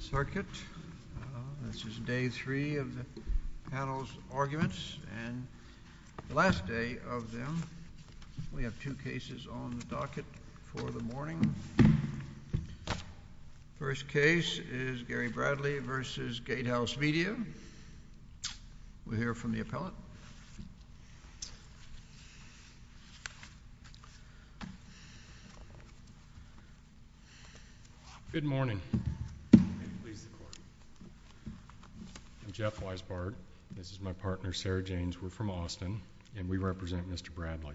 Circuit. This is Day 3 of the panel's arguments, and the last day of them. We have two cases on the docket for the morning. First case is Gary Bradley v. Gatehouse Media. We'll start with Gary. Good morning. I'm Jeff Weisbart. This is my partner, Sarah James. We're from Austin, and we represent Mr. Bradley.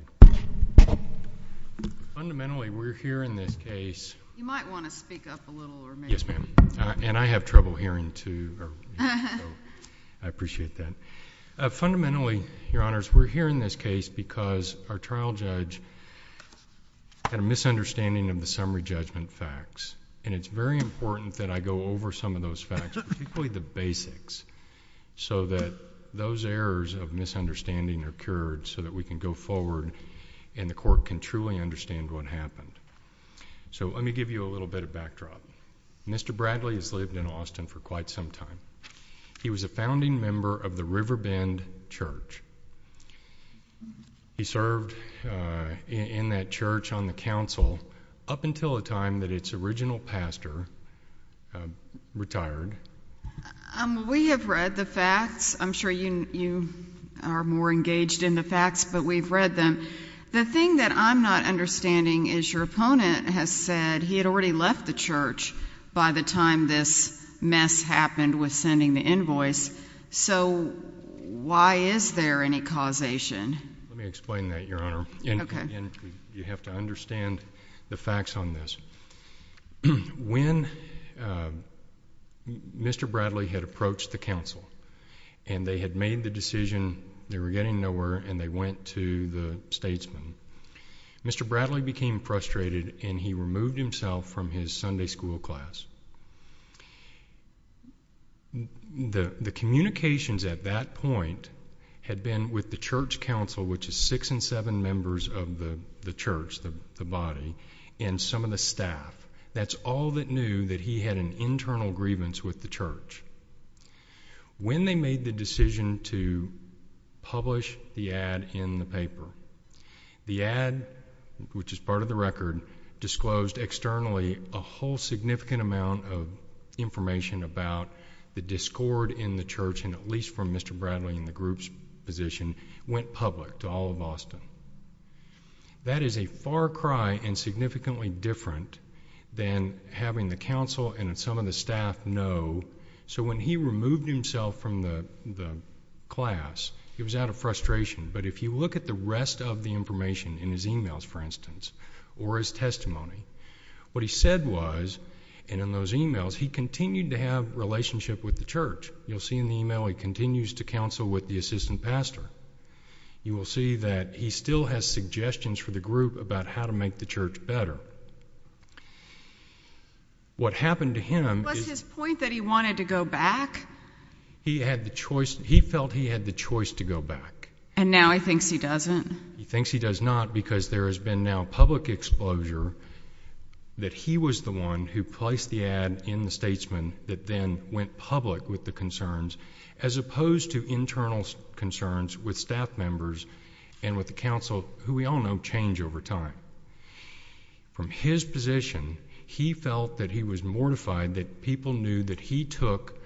Fundamentally, we're here in this case. You might want to speak up a little. Yes, ma'am. And I have trouble hearing, too. I appreciate that. Fundamentally, Your Honors, we're here in this case because our trial judge had a misunderstanding of the summary judgment facts, and it's very important that I go over some of those facts, particularly the basics, so that those errors of misunderstanding are cured so that we can go forward and the Court can truly understand what happened. So let me give you a little bit of backdrop. Mr. Bradley has lived in Austin for quite some time. He was a founding member of the River Bend Church. He served in that church on the council up until the time that its original pastor retired. We have read the facts. I'm sure you are more engaged in the facts, but we've read them. The thing that I'm not understanding is your opponent has said he had already left the church by the time this mess happened with So why is there any causation? Let me explain that, Your Honor. Okay. You have to understand the facts on this. When Mr. Bradley had approached the council and they had made the decision they were getting nowhere and they went to the statesman, Mr. Bradley became frustrated and he removed himself from his Sunday school class. The communications at that point had been with the church council, which is six and seven members of the church, the body, and some of the staff. That's all that knew that he had an internal grievance with the church. When they made the decision to publish the ad in the paper, the ad, which is part of the record, disclosed externally a whole significant amount of information about the discord in the church, and at least from Mr. Bradley and the group's position, went public to all of Austin. That is a far cry and significantly different than having the council and some of the staff know. So when he removed himself from the class, he was out of frustration. But if you look at the rest of the information in his e-mails, for instance, or his testimony, what he said was, and in those e-mails, he continued to have a relationship with the church. You'll see in the e-mail he continues to counsel with the assistant pastor. You will see that he still has suggestions for the group about how to make the church better. What happened to him... Was his point that he wanted to go back? He felt he had the choice to go back. And now he thinks he doesn't? He thinks he does not, because there has been now public exposure that he was the one who placed the ad in the Statesman that then went public with the concerns, as opposed to internal concerns with staff members and with the council, who we all know change over time. From his position, he felt that he was mortified that people knew that he took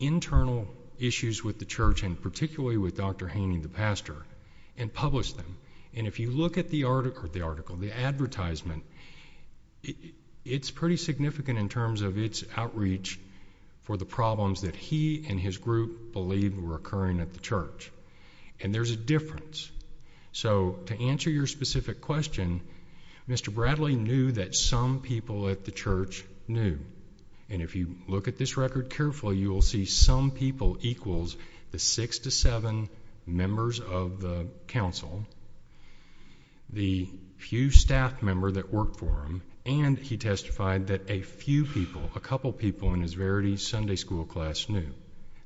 internal issues with the church, and particularly with Dr. Haney, the pastor, and published them. And if you look at the article, the advertisement, it's pretty significant in terms of its outreach for the problems that he and his group believed were occurring at the church. And there's a difference. So to answer your specific question, Mr. Bradley knew that some people at the church knew. And if you look at this record carefully, you will see some people equals the 6 to 7 members of the council, the few staff members that worked for him, and he testified that a few people, a couple people in his Verity Sunday School class knew.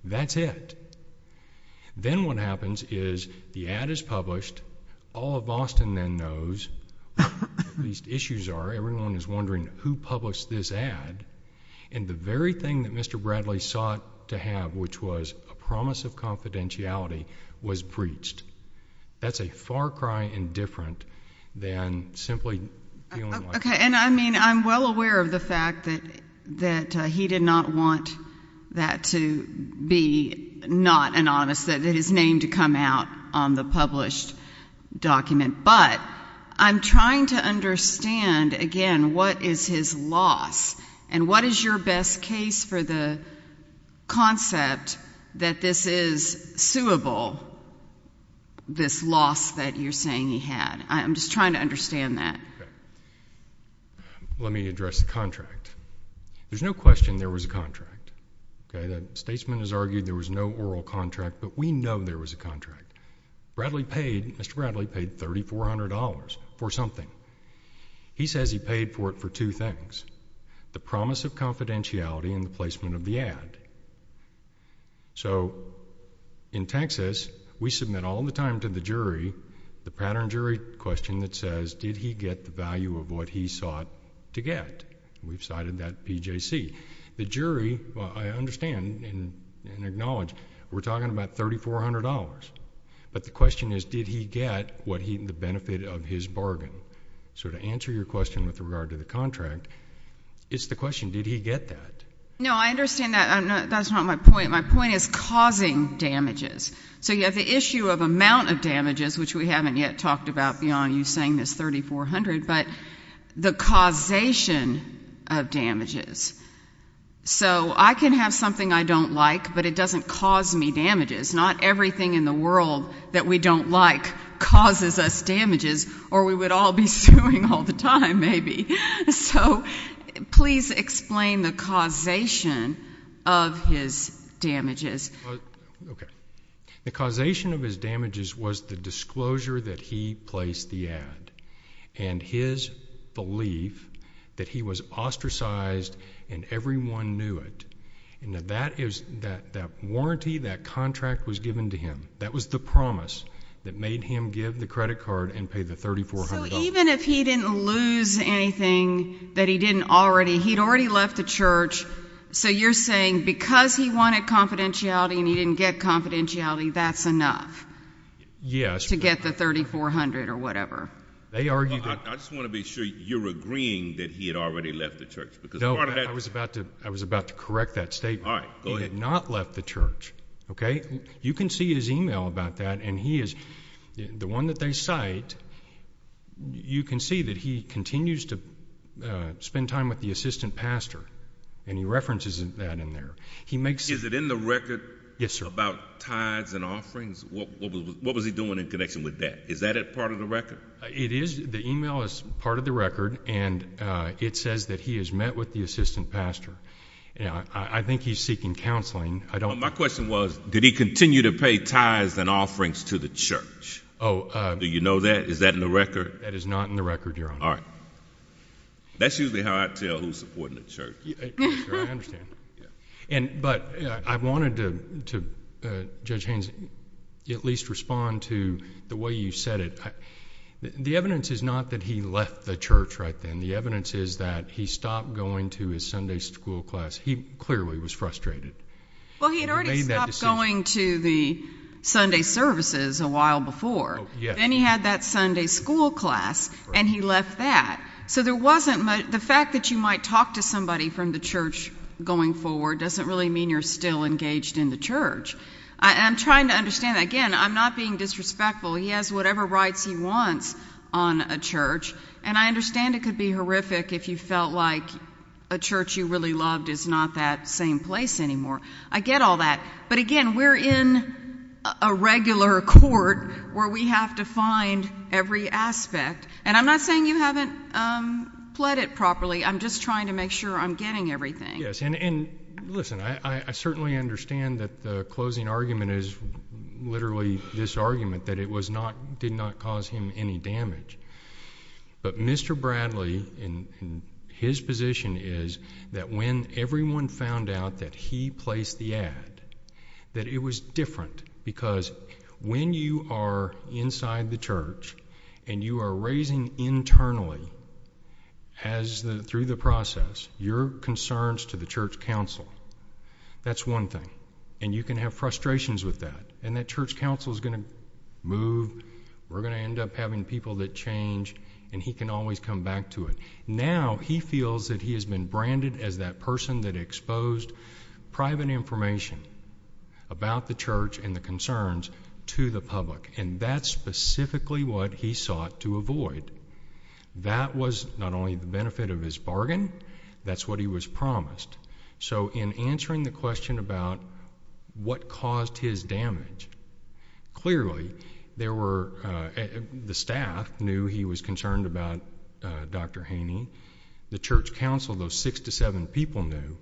That's it. Then what happens is the ad is published, all of these issues are, everyone is wondering who published this ad, and the very thing that Mr. Bradley sought to have, which was a promise of confidentiality, was breached. That's a far cry indifferent than simply feeling like. Okay, and I mean, I'm well aware of the fact that he did not want that to be not anonymous, that his name to come out on the published document. But I'm trying to understand, again, what is his loss, and what is your best case for the concept that this is suable, this loss that you're saying he had. I'm just trying to understand that. Let me address the contract. There's no question there was a contract. Okay, the statesman has argued there was no oral contract, but we know there was a contract. Bradley paid, Mr. Bradley paid $3,400 for something. He says he paid for it for two things, the promise of confidentiality and the placement of the ad. So in Texas, we submit all the time to the jury, the pattern jury question that says, did he get the value of what he sought to get? We've cited that PJC. The jury, I understand and acknowledge, we're talking about $3,400. But the question is, did he get the benefit of his bargain? So to answer your question with regard to the contract, it's the question, did he get that? No, I understand that. That's not my point. My point is causing damages. So you have the issue of amount of damages, which we haven't yet talked about beyond you saying this $3,400, but the causation of damages. So I can have something I don't like, but it doesn't cause me damages. Not everything in the world that we don't like causes us damages, or we would all be suing all the time maybe. So please explain the causation of his damages. The causation of his damages was the disclosure that he placed the ad. And his belief that he was ostracized and everyone knew it. And that is, that warranty, that contract was given to him. That was the promise that made him give the credit card and pay the $3,400. So even if he didn't lose anything that he didn't already, he'd already left the church, so you're saying because he wanted confidentiality and he didn't get confidentiality, that's enough to get the $3,400 or whatever? I just want to be sure you're agreeing that he had already left the church. No, I was about to correct that statement. He had not left the church. You can see his email about that, and the one that they cite, you can see that he continues to spend time with the assistant pastor, and he references that in there. Is it in the record about tithes and offerings? What was he doing in connection with that? Is that part of the record? It is. The email is part of the record, and it says that he has met with the assistant pastor. I think he's seeking counseling. My question was, did he continue to pay tithes and offerings to the church? Do you know that? Is that in the record? That is not in the record, Your Honor. That's usually how I tell who's supporting the church. I understand. But I wanted to, Judge Haynes, at least respond to the way you said it. The evidence is not that he left the church right then. The evidence is that he stopped going to his Sunday school class. He clearly was frustrated. Well, he had already stopped going to the Sunday services a while before. Then he had that Sunday school class, and he left that. So the fact that you might talk to somebody from the church going forward doesn't really mean you're still engaged in the church. I'm trying to understand. Again, I'm not being disrespectful. He has whatever rights he wants on a church. I understand it could be horrific if you felt like a church you really loved is not that same place anymore. I get all that. But again, we're in a regular court where we have to find every aspect. I'm not saying you haven't pled it properly. I'm just getting everything. Yes. And listen, I certainly understand that the closing argument is literally this argument that it did not cause him any damage. But Mr. Bradley, his position is that when everyone found out that he placed the ad, that it was different. Because when you are inside the church, you bring your concerns to the church council. That's one thing. And you can have frustrations with that. And that church council is going to move. We're going to end up having people that change, and he can always come back to it. Now he feels that he has been branded as that person that exposed private information about the church and the concerns to the public. And that's specifically what he sought to avoid. That was not only the way it was promised. So in answering the question about what caused his damage, clearly the staff knew he was concerned about Dr. Haney. The church council, those six to seven people knew.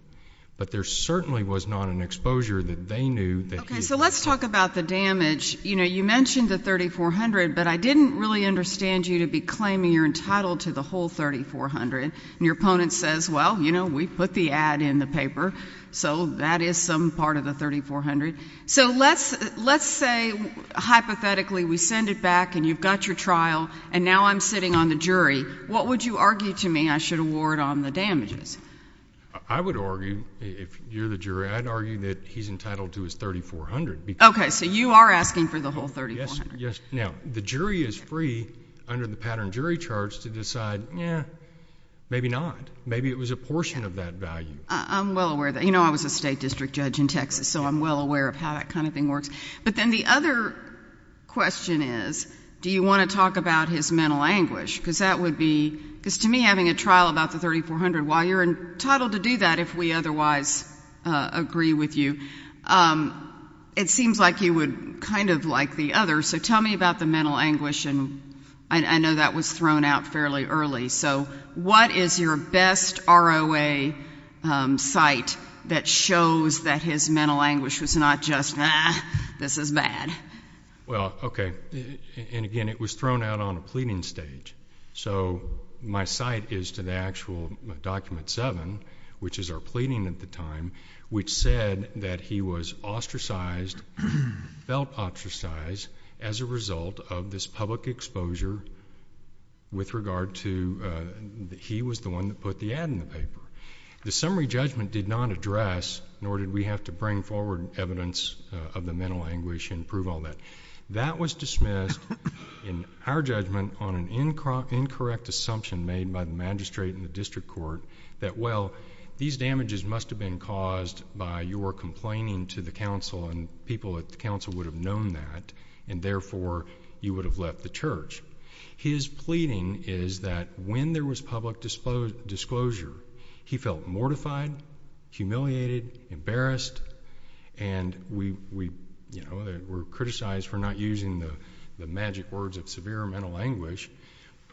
But there certainly was not an exposure that they knew that he had. Okay, so let's talk about the damage. You mentioned the $3,400, but I didn't really understand you to be claiming you're entitled to the whole $3,400. And your opponent says, well, you know, we put the ad in the paper, so that is some part of the $3,400. So let's say, hypothetically, we send it back, and you've got your trial, and now I'm sitting on the jury. What would you argue to me I should award on the damages? I would argue, if you're the jury, I'd argue that he's entitled to his $3,400. Okay, so you are asking for the whole $3,400. Yes. Now, the jury is free, under the pattern jury charge, to decide, yeah, maybe not. Maybe it was a portion of that value. I'm well aware of that. You know, I was a state district judge in Texas, so I'm well aware of how that kind of thing works. But then the other question is, do you want to talk about his mental anguish? Because that would be, because to me, having a trial about the $3,400, while you're entitled to do that, if we otherwise agree with you, it seems like you would kind of like the other. So tell me about the mental anguish, and I know that that was thrown out fairly early. So what is your best ROA site that shows that his mental anguish was not just, ah, this is bad? Well, okay. And again, it was thrown out on a pleading stage. So my site is to the actual Document 7, which is our pleading at the time, which said that he was ostracized, felt ostracized, as a result of this public exposure with regard to, ah, that he was the one that put the ad in the paper. The summary judgment did not address, nor did we have to bring forward evidence of the mental anguish and prove all that. That was dismissed, in our judgment, on an incorrect assumption made by the magistrate and the district court that, well, these damages must have been caused by your complaining to the council, and people at the council would have known that, and therefore, you would have left the church. His pleading is that when there was public disclosure, he felt mortified, humiliated, embarrassed, and we, you know, were criticized for not using the magic words of severe mental anguish.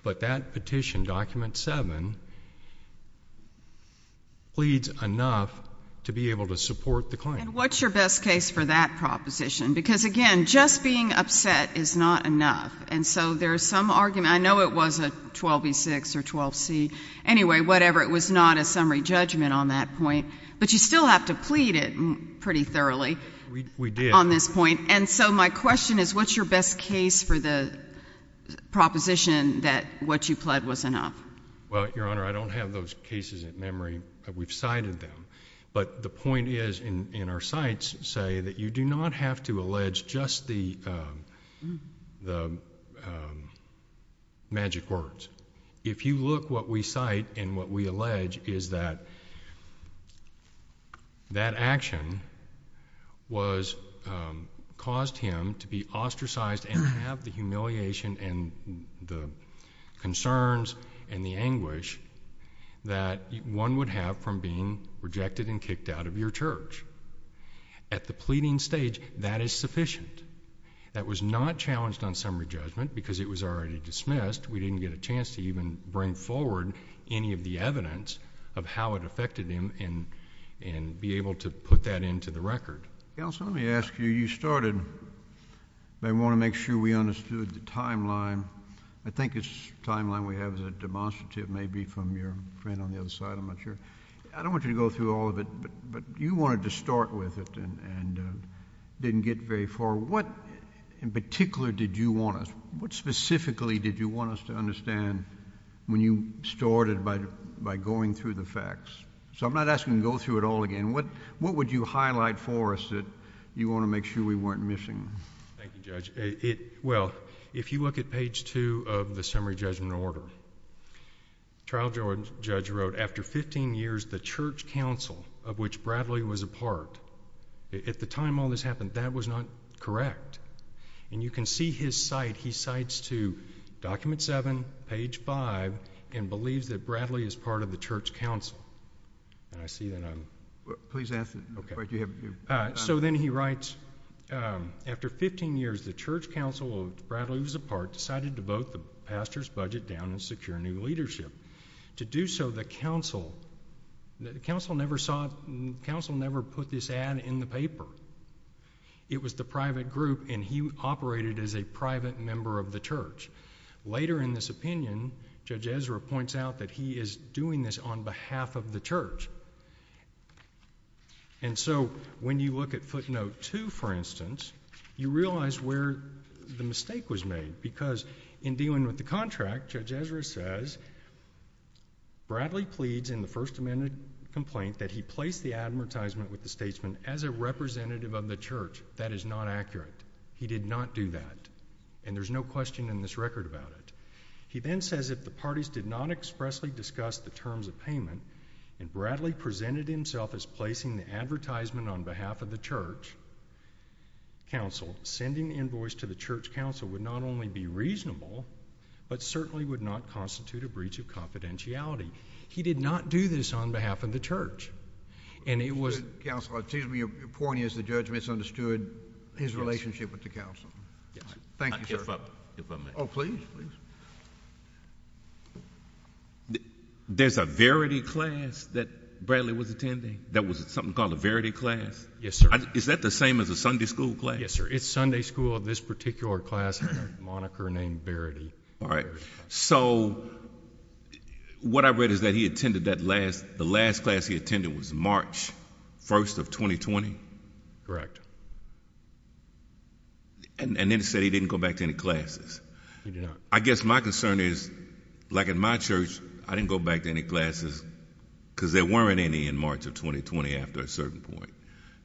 But that petition, Document 7, pleads enough to be able to support the claim. And what's your best case for that proposition? Because, again, just being upset is not enough. And so there's some argument, I know it was a 12e6 or 12c, anyway, whatever, it was not a summary judgment on that point. But you still have to plead it pretty thoroughly. We did. On this point. And so my question is, what's your best case for the proposition that what you pled was enough? Well, Your Honor, I don't have those cases in memory. We've cited them. But the point is, in our cites, say that you do not have to allege just the magic words. If you look what we cite and what we allege is that that action caused him to be ostracized and have the humiliation and the concerns and the anguish that one would have from being rejected and rejected by the Church. At the pleading stage, that is sufficient. That was not challenged on summary judgment because it was already dismissed. We didn't get a chance to even bring forward any of the evidence of how it affected him and be able to put that into the record. Counsel, let me ask you, you started, but I want to make sure we understood the timeline. I think it's the timeline we have as a demonstrative, maybe from your friend on the other side, I'm not sure. I don't want you to go through all of it, but you wanted to start with it and didn't get very far. What in particular did you want us, what specifically did you want us to understand when you started by going through the facts? So I'm not asking you to go through it all again. What would you highlight for us that you want to make sure we weren't missing? Thank you, Judge. Well, if you look at page two of the summary judgment order, trial judge wrote, after 15 years, the church council of which Bradley was a part, at the time all this happened, that was not correct. And you can see his cite, he cites to document seven, page five, and believes that Bradley is part of the church council. And I see that I'm... Please answer, but you have... So then he writes, after 15 years, the church council of which Bradley was a part decided to vote the pastor's budget down and secure new leadership. To do so, the council, the council never put this ad in the paper. It was the private group, and he operated as a private member of the church. Later in this opinion, Judge Ezra points out that he is doing this on behalf of the church. And so when you look at footnote two, for instance, you realize where the mistake was made, because in dealing with the contract, Judge Ezra says Bradley pleads in the First Amendment complaint that he placed the advertisement with the statesman as a representative of the church. That is not accurate. He did not do that, and there's no question in this record about it. He then says that the parties did not expressly discuss the terms of payment, and Bradley presented himself as placing the advertisement on behalf of the church council. Sending the invoice to the church council would not only be reasonable, but certainly would not constitute a breach of confidentiality. He did not do this on behalf of the church, and it was... Counselor, excuse me. Your point is the judge misunderstood his relationship with the council. Yes. Thank you, sir. I give up. Oh, please, please. There's a Verity class that Bradley was attending? That was something called a Verity class? Yes, sir. Is that the same as a Sunday school class? Yes, sir. It's Sunday school. This particular class had a moniker named Verity. All right. So what I read is that he attended that last... The last class he attended was March 1st of 2020? Correct. And then it said he didn't go back to any classes. He did not. I guess my concern is, like in my church, I didn't go back to any classes because there weren't any in March of 2020 after a certain point.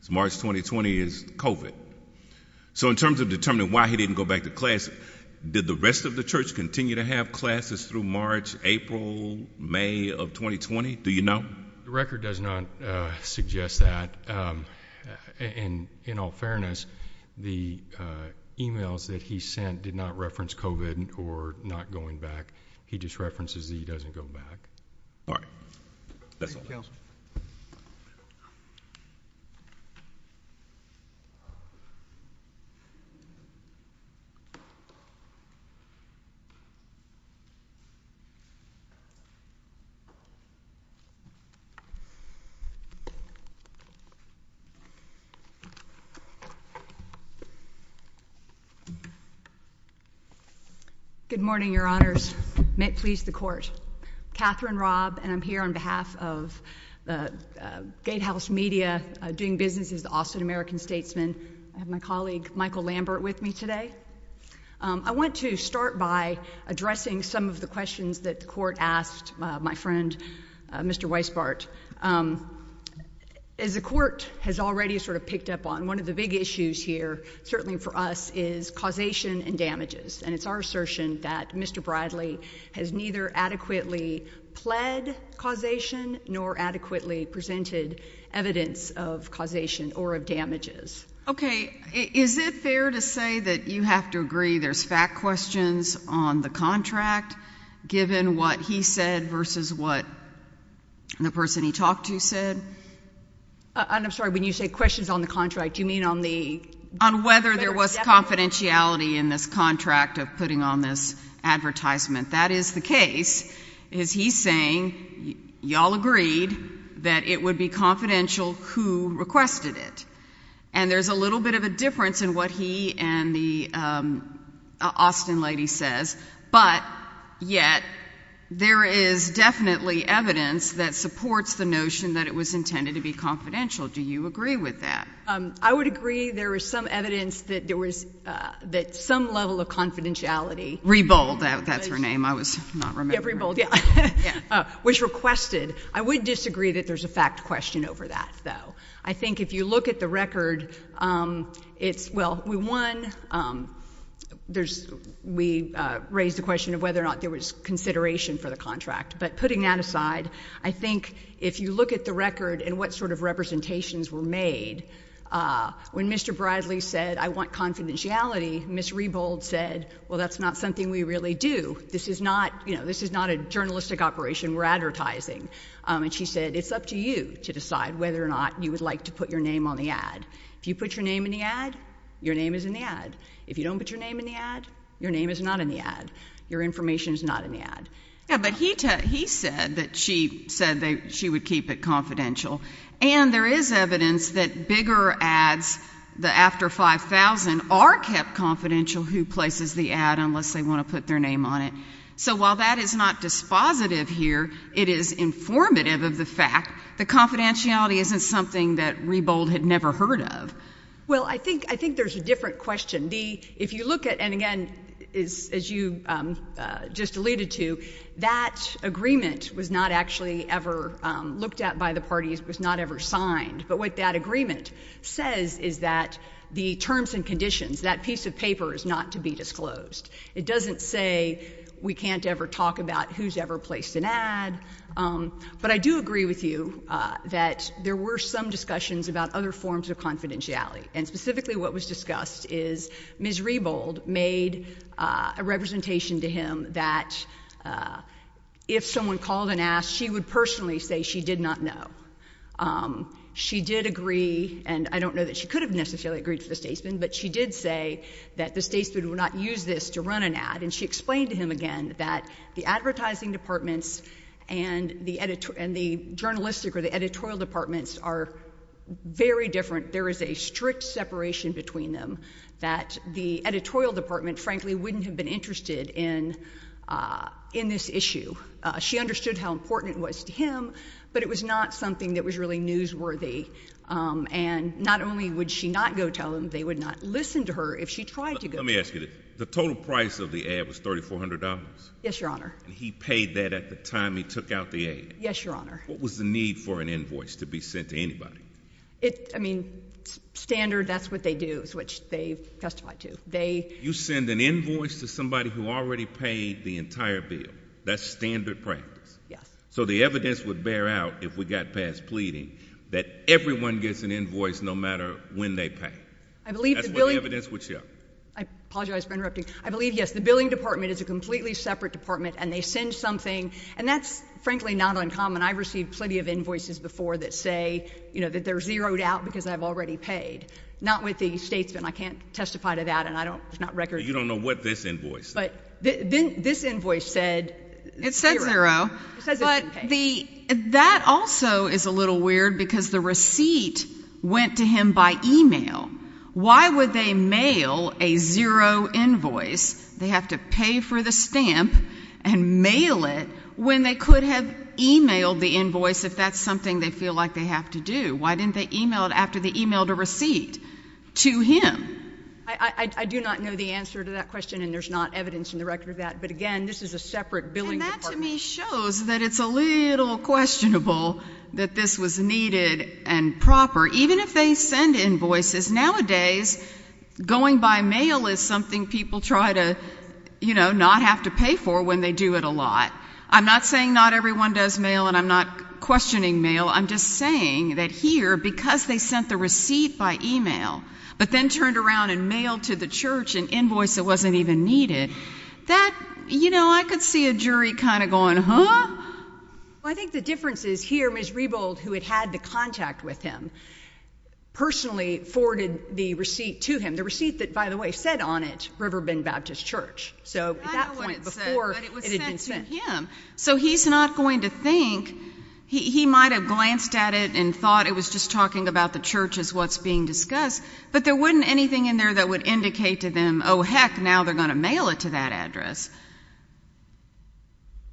So March 2020 is COVID. So in terms of determining why he didn't go back to class, did the rest of the church continue to have classes through March, April, May of 2020? Do you know? The record does not suggest that. In all fairness, the emails that he sent did not reference COVID or not going back. He just references that he doesn't go back. Good morning, Your Honors. May it please the Court. Katherine Robb, and I'm here on behalf of the Gatehouse Media, doing business as the Austin American Statesman. I have my colleague Michael Lambert with me today. I want to start by addressing some of the questions that the Court asked my friend, Mr. Weisbart. As the Court has already sort of picked up on, one of the big issues here, certainly for us, is causation and damages. And it's our assertion that Mr. Bradley has neither adequately pled causation nor adequately presented evidence of causation or of damages. Okay. Is it fair to say that you have to agree there's fact questions on the contract, given what he said versus what the person he talked to said? And I'm sorry, when you say questions on the contract, do you mean on the... On whether there was confidentiality in this contract of putting on this advertisement. That is the case. He's saying, y'all agreed that it would be confidential who requested it. And there's a little bit of a difference in what he and the Austin lady says, but yet there is definitely evidence that supports the notion that it was intended to be confidential. Do you agree with that? I would agree there was some evidence that there was, that some level of confidentiality... Rebold, that's her name. I was not remembering. Yeah, Rebold, yeah. Was requested. I would disagree that there's a fact question over that, though. I think if you look at the record, it's, well, we won, there's, we raised the consideration for the contract. But putting that aside, I think if you look at the record and what sort of representations were made, when Mr. Bradley said, I want confidentiality, Ms. Rebold said, well, that's not something we really do. This is not, you know, this is not a journalistic operation. We're advertising. And she said, it's up to you to decide whether or not you would like to put your name on the ad. If you put your name in the ad, your name is in the ad. If you don't put your name in the ad, your name is not in the ad. Your information is not in the ad. Yeah, but he said that she said she would keep it confidential. And there is evidence that bigger ads, the after 5,000, are kept confidential who places the ad unless they want to put their name on it. So while that is not dispositive here, it is informative of the fact that confidentiality isn't something that Rebold had never heard of. Well, I think, I think there's a different question. The, if you look at, and again, is, as you just alluded to, that agreement was not actually ever looked at by the parties, was not ever signed. But what that agreement says is that the terms and conditions, that piece of paper is not to be disclosed. It doesn't say we can't ever talk about who's ever placed an ad. But I do agree with you that there were some discussions about other forms of confidentiality. And specifically what was discussed is Ms. Rebold made a representation to him that if someone called and asked, she would personally say she did not know. She did agree, and I don't know that she could have necessarily agreed for the statesman, but she did say that the statesman would not use this to run an ad. And she explained to him again that the advertising departments and the editor, and the journalistic or the editorial departments are very different. There is a strict separation between them that the editorial department, frankly, wouldn't have been interested in, in this issue. She understood how important it was to him, but it was not something that was really newsworthy. And not only would she not go tell him, they would not listen to her if she tried to go tell him. Let me ask you, the total price of the ad was $3,400? Yes, Your Honor. And he paid that at the time he took out the ad? Yes, Your Honor. What was the need for an invoice to be sent to anybody? I mean, standard, that's what they do, which they testify to. You send an invoice to somebody who already paid the entire bill? That's standard practice? Yes. So the evidence would bear out if we got past pleading that everyone gets an invoice no matter when they pay? That's what the evidence would show? I apologize for interrupting. I believe, yes, the billing department is a completely separate department, and they send something, and that's frankly not uncommon. I've received plenty of invoices before that say, you know, that they're zeroed out because I've already paid. Not with the statesman. I can't testify to that, and I don't, there's not records. You don't know what this invoice said? This invoice said zero. It said zero. It says it didn't pay. But the, that also is a little weird because the receipt went to him by email. Why would they mail a zero invoice? They have to pay for the stamp and mail it when they could have emailed the invoice if that's something they feel like they have to do. Why didn't they email it after they emailed a receipt to him? I do not know the answer to that question, and there's not evidence in the record of that, but again, this is a separate billing department. And that to me shows that it's a little questionable that this was needed and proper. Even if they send invoices, nowadays going by mail is something people try to, you know, not have to pay for when they do it a lot. I'm not saying not everyone does mail, and I'm not questioning mail. I'm just saying that here, because they sent the receipt by email, but then turned around and mailed to the church an invoice that wasn't even needed, that, you know, I could see a jury kind of going, huh? Well, I think the difference is here, Ms. Rebold, who had had the contact with him, personally forwarded the receipt to him. The receipt that, by the way, said on it, Riverbend Baptist Church. I know what it said, but it was sent to him. So he's not going to think, he might have glanced at it and thought it was just talking about the church as what's being discussed, but there wouldn't be anything in there that would indicate to them, oh, heck, now they're going to mail it to that address.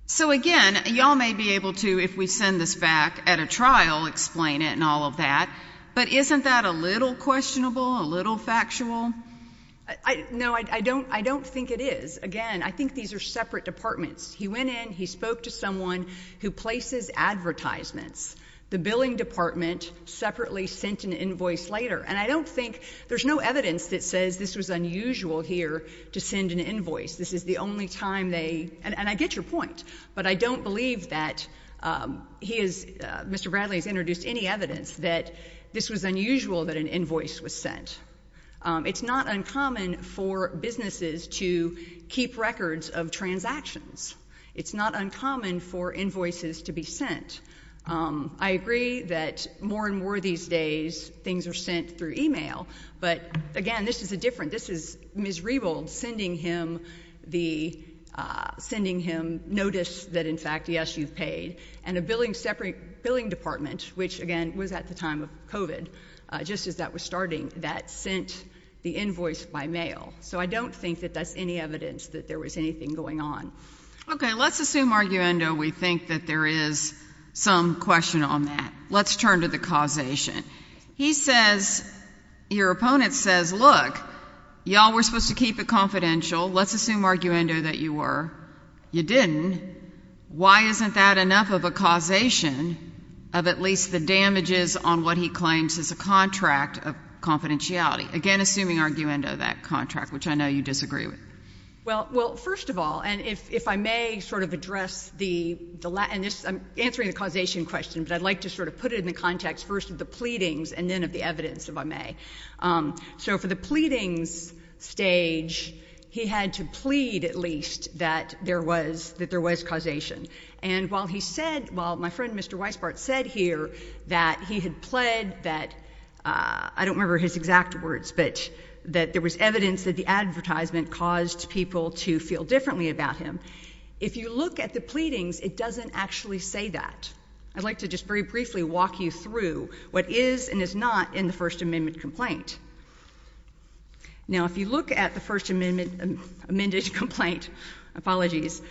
So, again, y'all may be able to, if we send this back at a trial, explain it and all of that, but isn't that a little questionable, a little factual? No, I don't think it is. Again, I think these are separate departments. He went in, he spoke to someone who places advertisements. The billing department separately sent an invoice later, and I don't think, there's no evidence that says this was unusual here to send an invoice. This is the only time they, and I get your point, but I don't believe that he has, Mr. Bradley has introduced any evidence that this was unusual that an invoice was sent. It's not uncommon for businesses to keep records of transactions. It's not uncommon for invoices to be sent. I agree that more and more these days things are sent through email, but, again, this is a different, this is Ms. Rebold sending him the, sending him notice that, in fact, yes, you've paid, and a billing department, which, again, was at the time of COVID, just as that was starting, that sent the invoice by mail. So I don't think that that's any evidence that there was anything going on. Okay, let's assume, arguendo, we think that there is some question on that. Let's turn to the causation. He says, your opponent says, look, y'all were supposed to keep it confidential. Let's assume, arguendo, that you were. You didn't. Why isn't that enough of a causation of at least the damages on what he claims is a contract of confidentiality? Again, assuming, arguendo, that contract, which I know you disagree with. Well, first of all, and if I may sort of address the, and this, I'm answering the causation question, but I'd like to sort of put it in the context first of the pleadings and then of the evidence, if I may. So for the pleadings stage, he had to plead, at least, that there was causation. And while he said, while my friend, Mr. Weisbart, said here that he had pled that, I don't remember his exact words, but that there was evidence that the advertisement caused people to feel differently about him. If you look at the pleadings, it doesn't actually say that. I'd like to just very briefly walk you through what is and is not in the First Amendment complaint. Now, if you look at the First Amendment, amended complaint, apologies,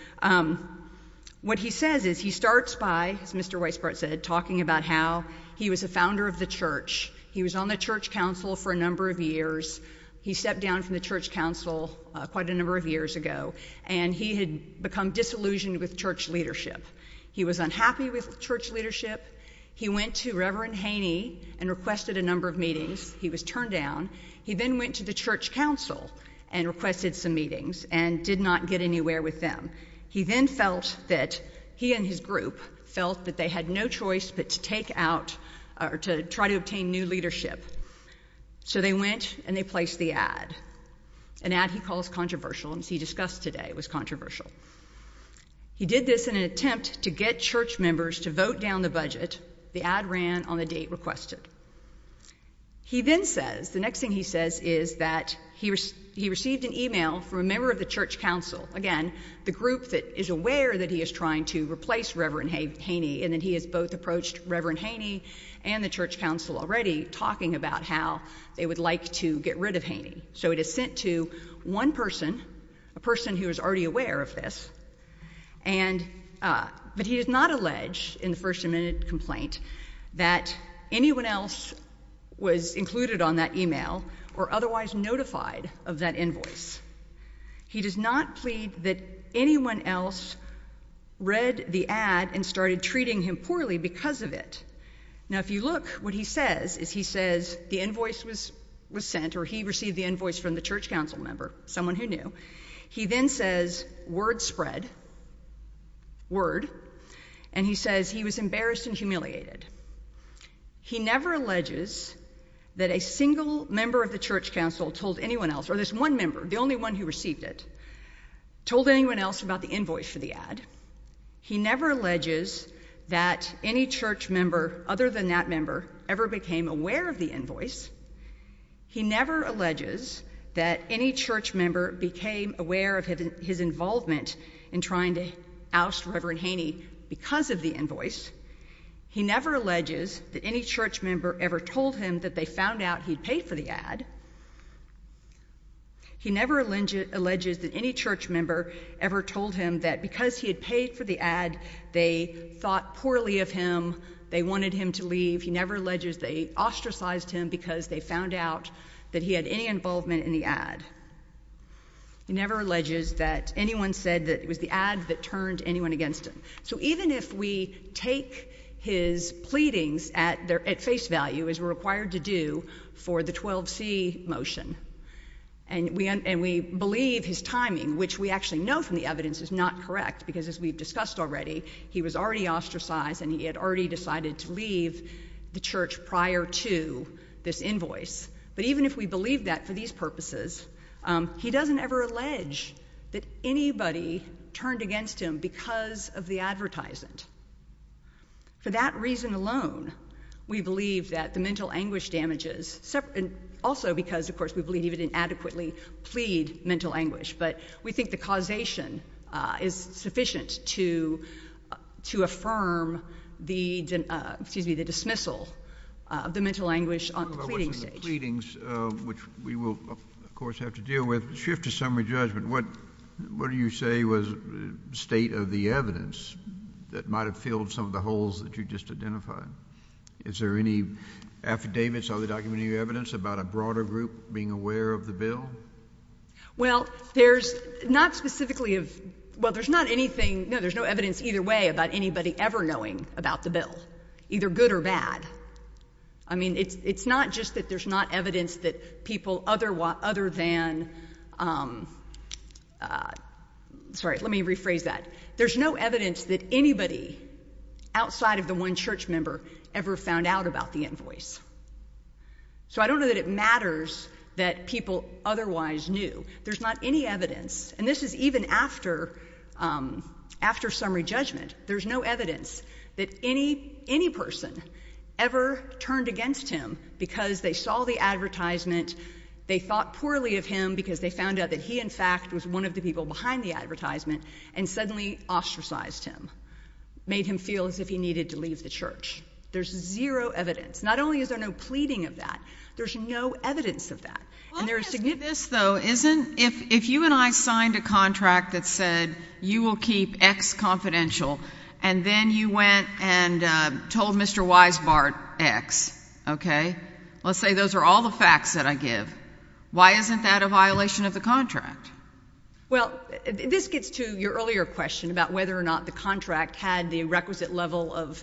what he says is he starts by, as Mr. Weisbart said, talking about how he was a founder of the church. He was on the church council for a number of years. He stepped down from the church council quite a number of years ago, and he had become disillusioned with church leadership. He was unhappy with church leadership. He went to Reverend Haney and requested a number of meetings. He was turned down. He then went to the church council and requested some meetings and did not get anywhere with them. He then felt that he and his group felt that they had no choice but to take out or to try to obtain new leadership. So they went and they placed the ad, an ad he calls controversial. As he discussed today, it was controversial. He did this in an attempt to get church members to vote down the budget. The ad ran on the date requested. He then says, the next thing he says is that he received an email from a member of the church council, again, the group that is aware that he is trying to replace Reverend Haney, and that he has both approached Reverend Haney and the church council already talking about how they would like to get rid of Haney. So it is sent to one person, a person who is already aware of this, but he does not allege in the First Amendment complaint that anyone else was included on that email or otherwise notified of that invoice. He does not plead that anyone else read the ad and started treating him poorly because of it. Now if you look, what he says is he says the invoice was sent or he received the invoice from the church council member, someone who knew. He then says, word spread, word, and he says he was embarrassed and humiliated. He never alleges that a single member of the church council told anyone else, or this one member, the only one who received it, told anyone else about the invoice for the ad. He never alleges that any church member other than that member ever became aware of the invoice. He never alleges that any church member became aware of his involvement in trying to oust Reverend Haney because of the invoice. He never alleges that any church member ever told him that they found out he had paid for the ad. He never alleges that any church member ever told him that because he had paid for the ad, they thought poorly of him, they wanted him to leave. He never alleges they ostracized him because they found out that he had any involvement in the ad. He never alleges that anyone said that it was the ad that turned anyone against him. So even if we take his pleadings at face value, as we're required to do for the 12C motion, and we believe his timing, which we actually know from the evidence is not correct, because as we've discussed already, he was already ostracized and he had already decided to leave the church prior to this invoice. But even if we believe that for these purposes, he doesn't ever allege that anybody turned against him because of the advertisement. For that reason alone, we believe that the mental anguish but we think the causation is sufficient to affirm the dismissal of the mental anguish on the pleading stage. We will of course have to deal with the shift to summary judgment. What do you say was the state of the evidence that might have filled some of the holes that you just identified? Is there any There's not specifically, well, there's not anything, no, there's no evidence either way about anybody ever knowing about the bill, either good or bad. I mean, it's not just that there's not evidence that people other than, sorry, let me rephrase that. There's no evidence that anybody outside of the one church member ever found out about the invoice. So I don't know that it matters that people otherwise knew. There's not any evidence and this is even after summary judgment. There's no evidence that any person ever turned against him because they saw the advertisement, they thought poorly of him because they found out that he in fact was one of the people behind the advertisement and suddenly ostracized him, made him feel as if he needed to leave the church. There's zero evidence. Not only is there no pleading of that, there's no evidence of that. If you and I signed a contract that said you will keep X confidential and then you went and told Mr. Weisbart X, okay, let's say those are all the facts that I give, why isn't that a violation of the contract? Well, this gets to your earlier question about whether or not the contract had the requisite level of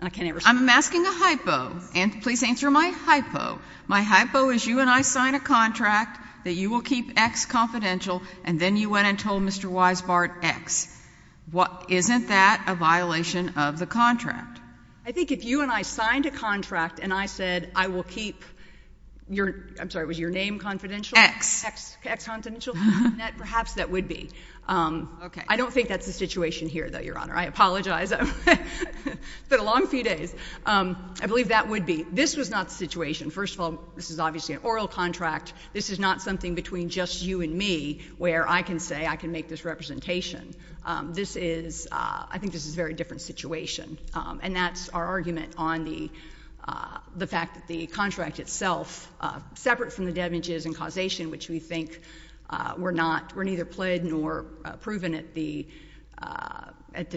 I'm asking a hypo and please answer my hypo. My hypo is you and I signed a contract that you will keep X confidential and then you went and told Mr. Weisbart X. Isn't that a violation of the contract? I think if you and I signed a contract and I said I will keep, I'm sorry, was your name confidential? X. X confidential? Perhaps that would be. I don't think that's the situation here though, Your Honor. I apologize. It's been a long few days. I believe that would be. This was not the situation. First of all, this is obviously an oral contract. This is not something between just you and me where I can say I can make this representation. This is, I think this is a very different situation. And that's our argument on the fact that the contract itself, separate from the damages and causation which we think were not, were neither pled nor proven at the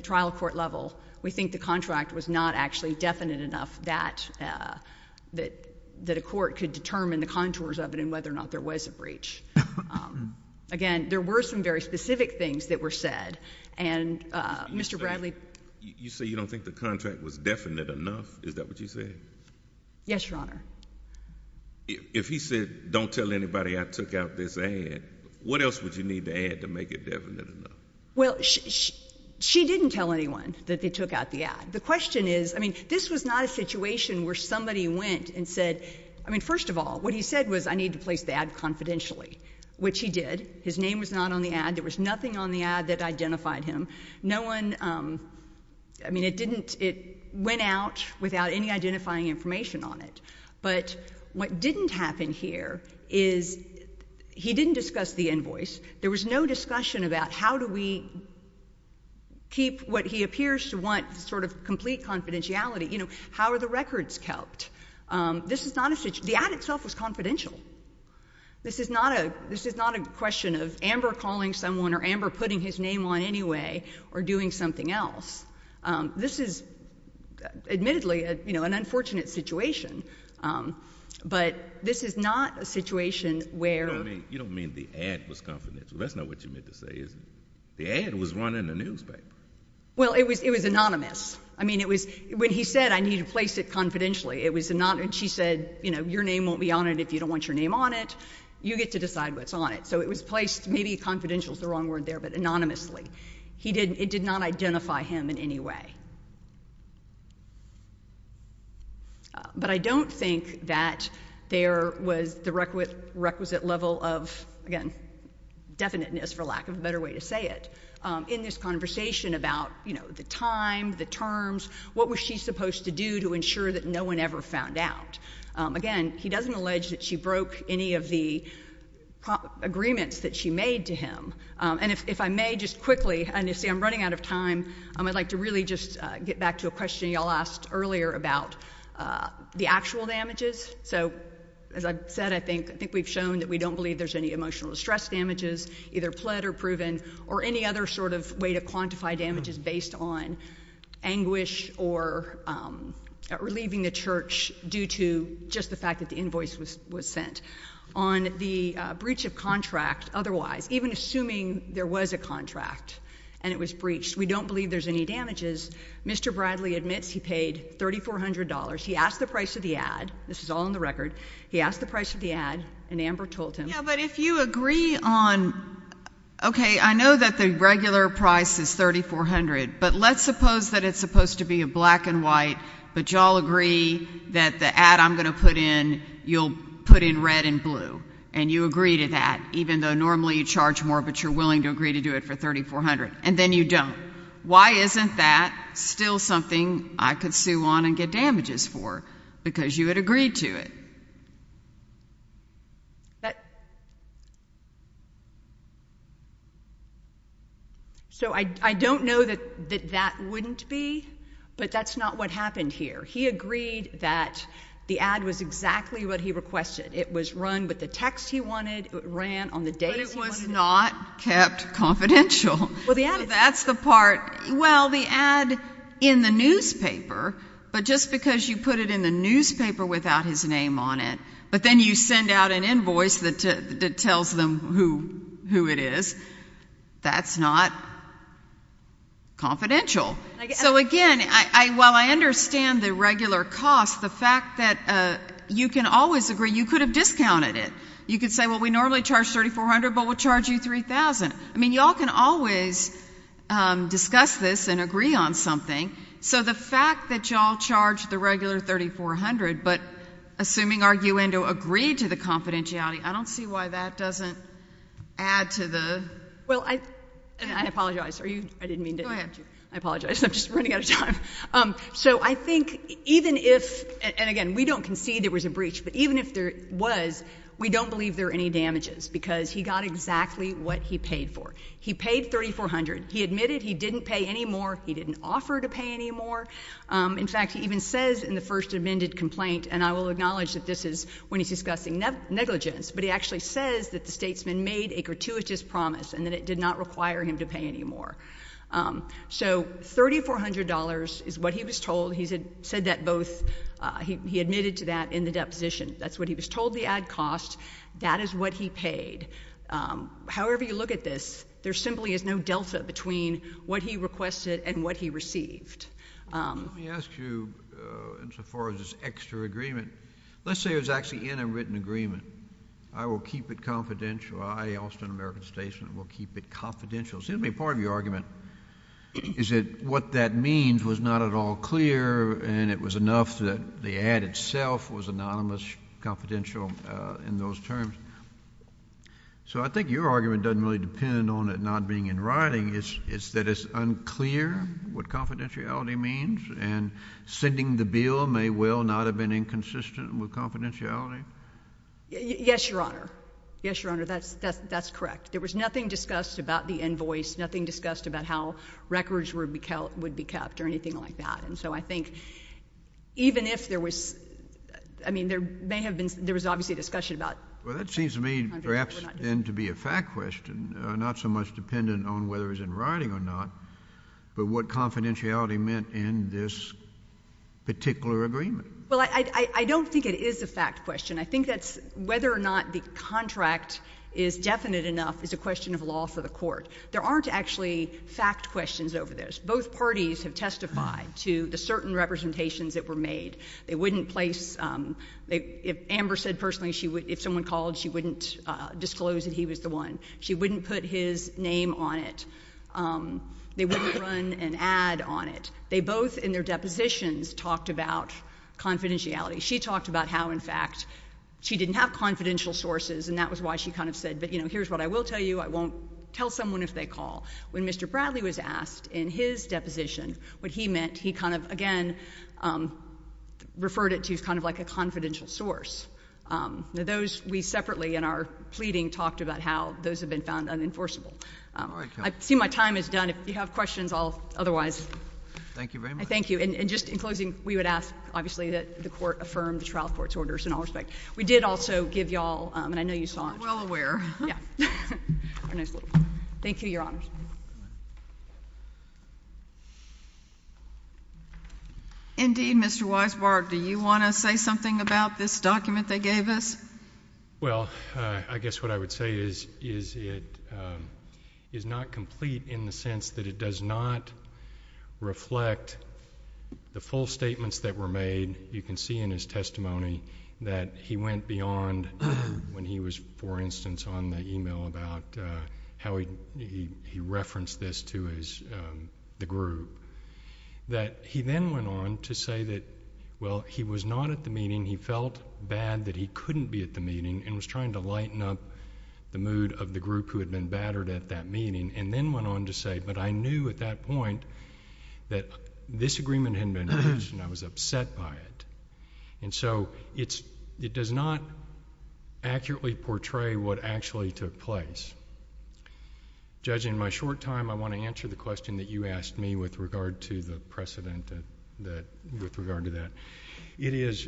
trial court level, we think the contract was not actually definite enough that a court could determine the contours of it and whether or not there was a breach. Again, there were some very specific things that were said. And Mr. Bradley? You say you don't think the contract was definite enough? Is that what you said? Yes, Your Honor. If he said don't tell anybody I took out this ad, what else would you need the ad to make it definite enough? Well, she didn't tell anyone that they took out the ad. The question is, I mean, this was not a situation where somebody went and said, I mean, first of all, what he said was I need to place the ad confidentially, which he did. His name was not on the ad. There was nothing on the ad that identified him. No one, I mean, it didn't, it went out without any identifying information on it. But what didn't happen here is he didn't discuss the invoice. There was no discussion about how do we keep what he appears to want sort of complete confidentiality. You know, how are the records kept? This is not a situation, the ad itself was confidential. This is not a, this is not a question of Amber calling someone or Amber putting his name on anyway or doing something else. This is admittedly, you know, an unfortunate situation, but this is not a situation where... You don't mean the ad was confidential. That's not what you meant to say, is it? The ad was run in the newspaper. Well, it was anonymous. I mean, it was, when he said I need to place it confidentially, it was anonymous. She said, you know, your name won't be on it if you don't want your name on it. You get to decide what's on it. So it was placed, maybe confidential is the wrong word there, but anonymously. It did not identify him in any way. But I don't think that there was the requisite level of, again, definiteness, for lack of a better way to say it, in this conversation about, you know, the time, the terms, what was she supposed to do to ensure that no one ever found out? Again, he doesn't allege that she broke any of the agreements that she made to him. And if I may just quickly, and you see I'm running out of time, I'd like to really just get back to a question you all asked earlier about the actual damages. So, as I've said, I think we've shown that we don't believe there's any emotional distress damages, either pled or proven, or any other sort of way to quantify damages based on anguish or relieving the church due to just the fact that the invoice was sent. On the breach of contract otherwise, even assuming there was a contract and it was breached, we don't believe there's any damages. Mr. Bradley admits he paid $3,400. He asked the price of the ad. This is all in the record. He asked the price of the ad, and Amber told him. Yeah, but if you agree on, okay, I know that the regular price is $3,400, but let's suppose that it's supposed to be a black and white, but you all agree that the ad I'm going to put in, you'll put in red and blue, and you agree to that, even though normally you charge more, but you're willing to agree to do it for $3,400, and then you don't. Why isn't that still something I could sue on and get damages for? Because you had agreed to it. So, I don't know that that wouldn't be, but that's not what happened here. He agreed that the ad was exactly what he requested. It was run with the text he wanted. It ran on the dates he wanted. But it was not kept confidential. That's the part. Well, the ad in the newspaper, but just because you put it in the newspaper without his name on it, but then you send out an invoice that tells them who it is, that's not confidential. So, again, while I understand the regular cost, the fact that you can always agree, you could have discounted it. You could say, well, we normally charge $3,400, but we'll charge you $3,000. I mean, you all can always discuss this and agree on something. So, the fact that you all charge the regular $3,400, but assuming Arguendo agreed to the confidentiality, I don't see why that doesn't add to the... Well, I apologize. I didn't mean to... Go ahead. I apologize. I'm just running out of time. So, I think even if, and again, we don't concede there was a breach, but even if there was, we don't believe there were any damages because he got exactly what he paid for. He paid $3,400. He admitted he didn't pay any more. He didn't offer to pay any more. In fact, he even says in the first amended complaint, and I will acknowledge that this is when he's discussing negligence, but he actually says that the statesman made a gratuitous promise and that it did not require him to pay any more. So, $3,400 is what he was told. He said that both, he admitted to that in the deposition. That's what he was told the ad cost. That is what he paid. However you look at this, there simply is no delta between what he requested and what he received. Let me ask you, insofar as this extra agreement, let's say it was actually in a written agreement. I will keep it confidential. I, Austin American Statesman, will keep it confidential. Simply part of your argument is that what that means was not at all clear and it was enough that the ad itself was anonymous, confidential in those terms. So I think your argument doesn't really depend on it not being in writing. It's that it's unclear what confidentiality means and sending the bill may well not have been inconsistent with confidentiality. Yes, Your Honor. Yes, Your Honor. That's correct. There was nothing discussed about the invoice, nothing discussed about how I mean, there may have been, there was obviously discussion about Well, that seems to me perhaps then to be a fact question, not so much dependent on whether it was in writing or not, but what confidentiality meant in this particular agreement. Well, I don't think it is a fact question. I think that's whether or not the contract is definite enough is a question of law for the Court. There aren't actually fact questions over this. Both parties have testified to the certain representations that were made. They wouldn't place, if Amber said personally if someone called, she wouldn't disclose that he was the one. She wouldn't put his name on it. They wouldn't run an ad on it. They both in their depositions talked about confidentiality. She talked about how, in fact, she didn't have confidential sources and that was why she kind of said, you know, what he meant. He kind of, again, referred it to as kind of like a confidential source. Those we separately in our pleading talked about how those have been found unenforceable. I see my time is done. If you have questions, I'll otherwise. Thank you very much. Thank you. And just in closing, we would ask obviously that the Court affirm the trial court's orders in all respect. We did also give y'all, and I know you saw it. Well aware. Thank you, Your Honors. Indeed, Mr. Weisbart, do you want to say something about this document they gave us? Well, I guess what I would say is it is not complete in the sense that it does not reflect the full statements that were made. You can see in his testimony that he went beyond when he was, for instance, on the email about how he referenced this to his, the group. That he then went on to say that, well, he was not at the meeting. He felt bad that he couldn't be at the meeting and was trying to lighten up the mood of the group who had been battered at that meeting and then went on to say, but I knew at that point that this agreement had been reached and I was upset by it. And so it does not accurately portray what actually took place. Judge, in my short time, I want to answer the question that you asked me with regard to the precedent that, with regard to that. It is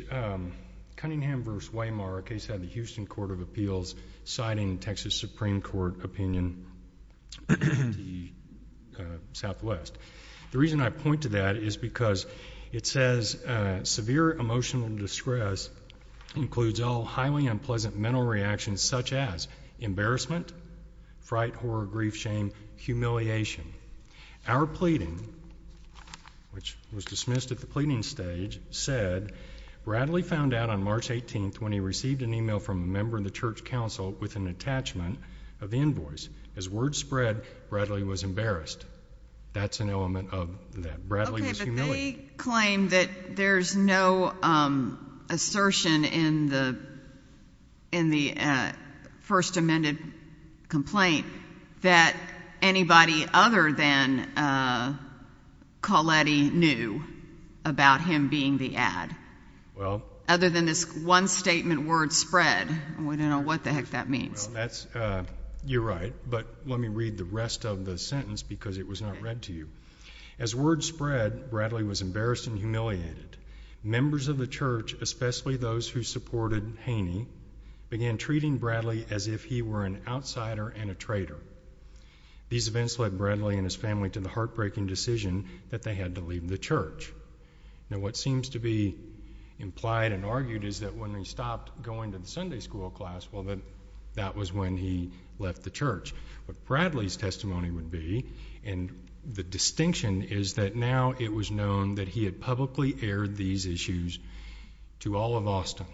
the Southwest. The reason I point to that is because it says severe emotional distress includes all highly unpleasant mental reactions such as embarrassment, fright, horror, grief, shame, humiliation. Our pleading, which was dismissed at the pleading stage, said, Bradley found out on March 18th when he received an email from a member of the church council with an attachment of the invoice. As word spread, Bradley was embarrassed. That's an element of that. Bradley was humiliated. Okay, but they claim that there's no assertion in the first amended complaint that anybody other than Bradley was embarrassed and humiliated. Members of the church, especially those who supported Haney, began treating Bradley as if he were an outsider and a traitor. These events led Bradley and his family to the heartbreaking decision that they had to leave the church. Now, what seems to be implied and argued is that when they stopped, going to the Sunday school class, well, that was when he left the church. But Bradley's testimony would be, and the distinction is that now it was known that he had publicly aired these issues to all of Austin.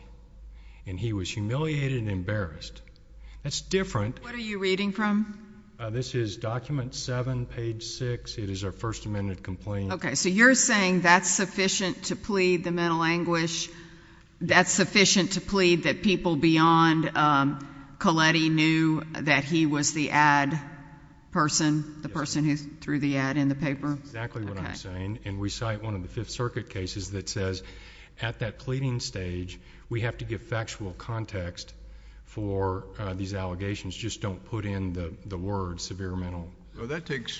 And he was humiliated and embarrassed. That's different. What are you reading from? This is document 7, page 6. It is our first amended complaint. Okay, so you're saying that's sufficient to plead the mental anguish? That's sufficient to plead that people beyond Colletti knew that he was the ad person, the person who threw the ad in the paper? That's exactly what I'm saying. And we cite one of the Fifth Circuit cases that says at that pleading stage, we have to give factual context for these allegations. Just don't put in the word severe mental... Well, that takes...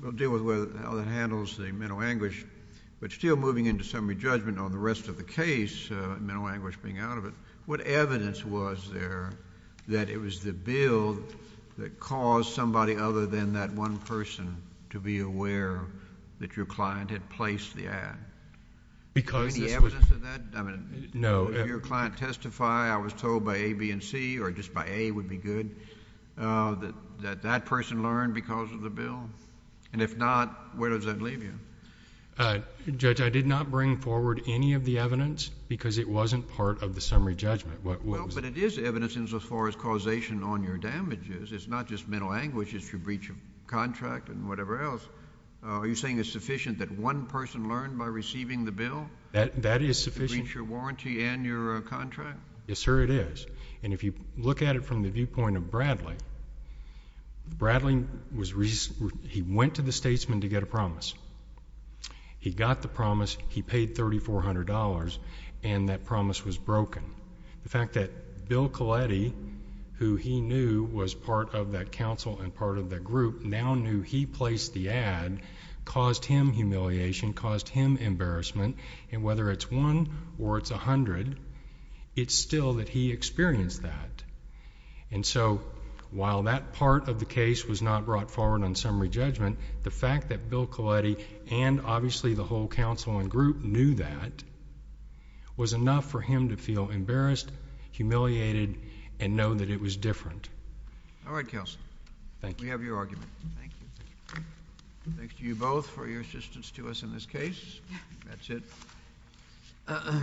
we'll deal with how that handles the mental anguish. But still moving into summary judgment on the rest of the case, mental anguish being out of it, what evidence was there that it was the bill that caused somebody other than that one person to be aware that your client had placed the ad? Any evidence of that? No. If your client testified, I was told by A, B, and C or just by A would be good, that that person learned because of the bill? And if not, where does that leave you? Judge, I did not bring forward any of the evidence because it wasn't part of the summary judgment. But it is evidence as far as causation on your damages. It's not just mental anguish. It's your breach of contract and whatever else. Are you saying it's sufficient that one person learned by receiving the bill? That is sufficient. To breach your warranty and your contract? Yes, sir, it is. And if you look at it from the viewpoint of Bradley, Bradley was... he went to the statesman to get a promise. He got the promise. He paid $3,400, and that promise was broken. The fact that Bill Colletti, who he knew was part of that council and part of that group, now knew he placed the ad caused him humiliation, caused him embarrassment. And whether it's one or it's a hundred, it's still that he experienced that. And so, while that part of the case was not brought forward on summary judgment, the fact that you're asking him to feel embarrassed, humiliated, and know that it was different. All right, counsel. We have your argument. Thank you. Thanks to you both for your assistance to us in this case. That's it.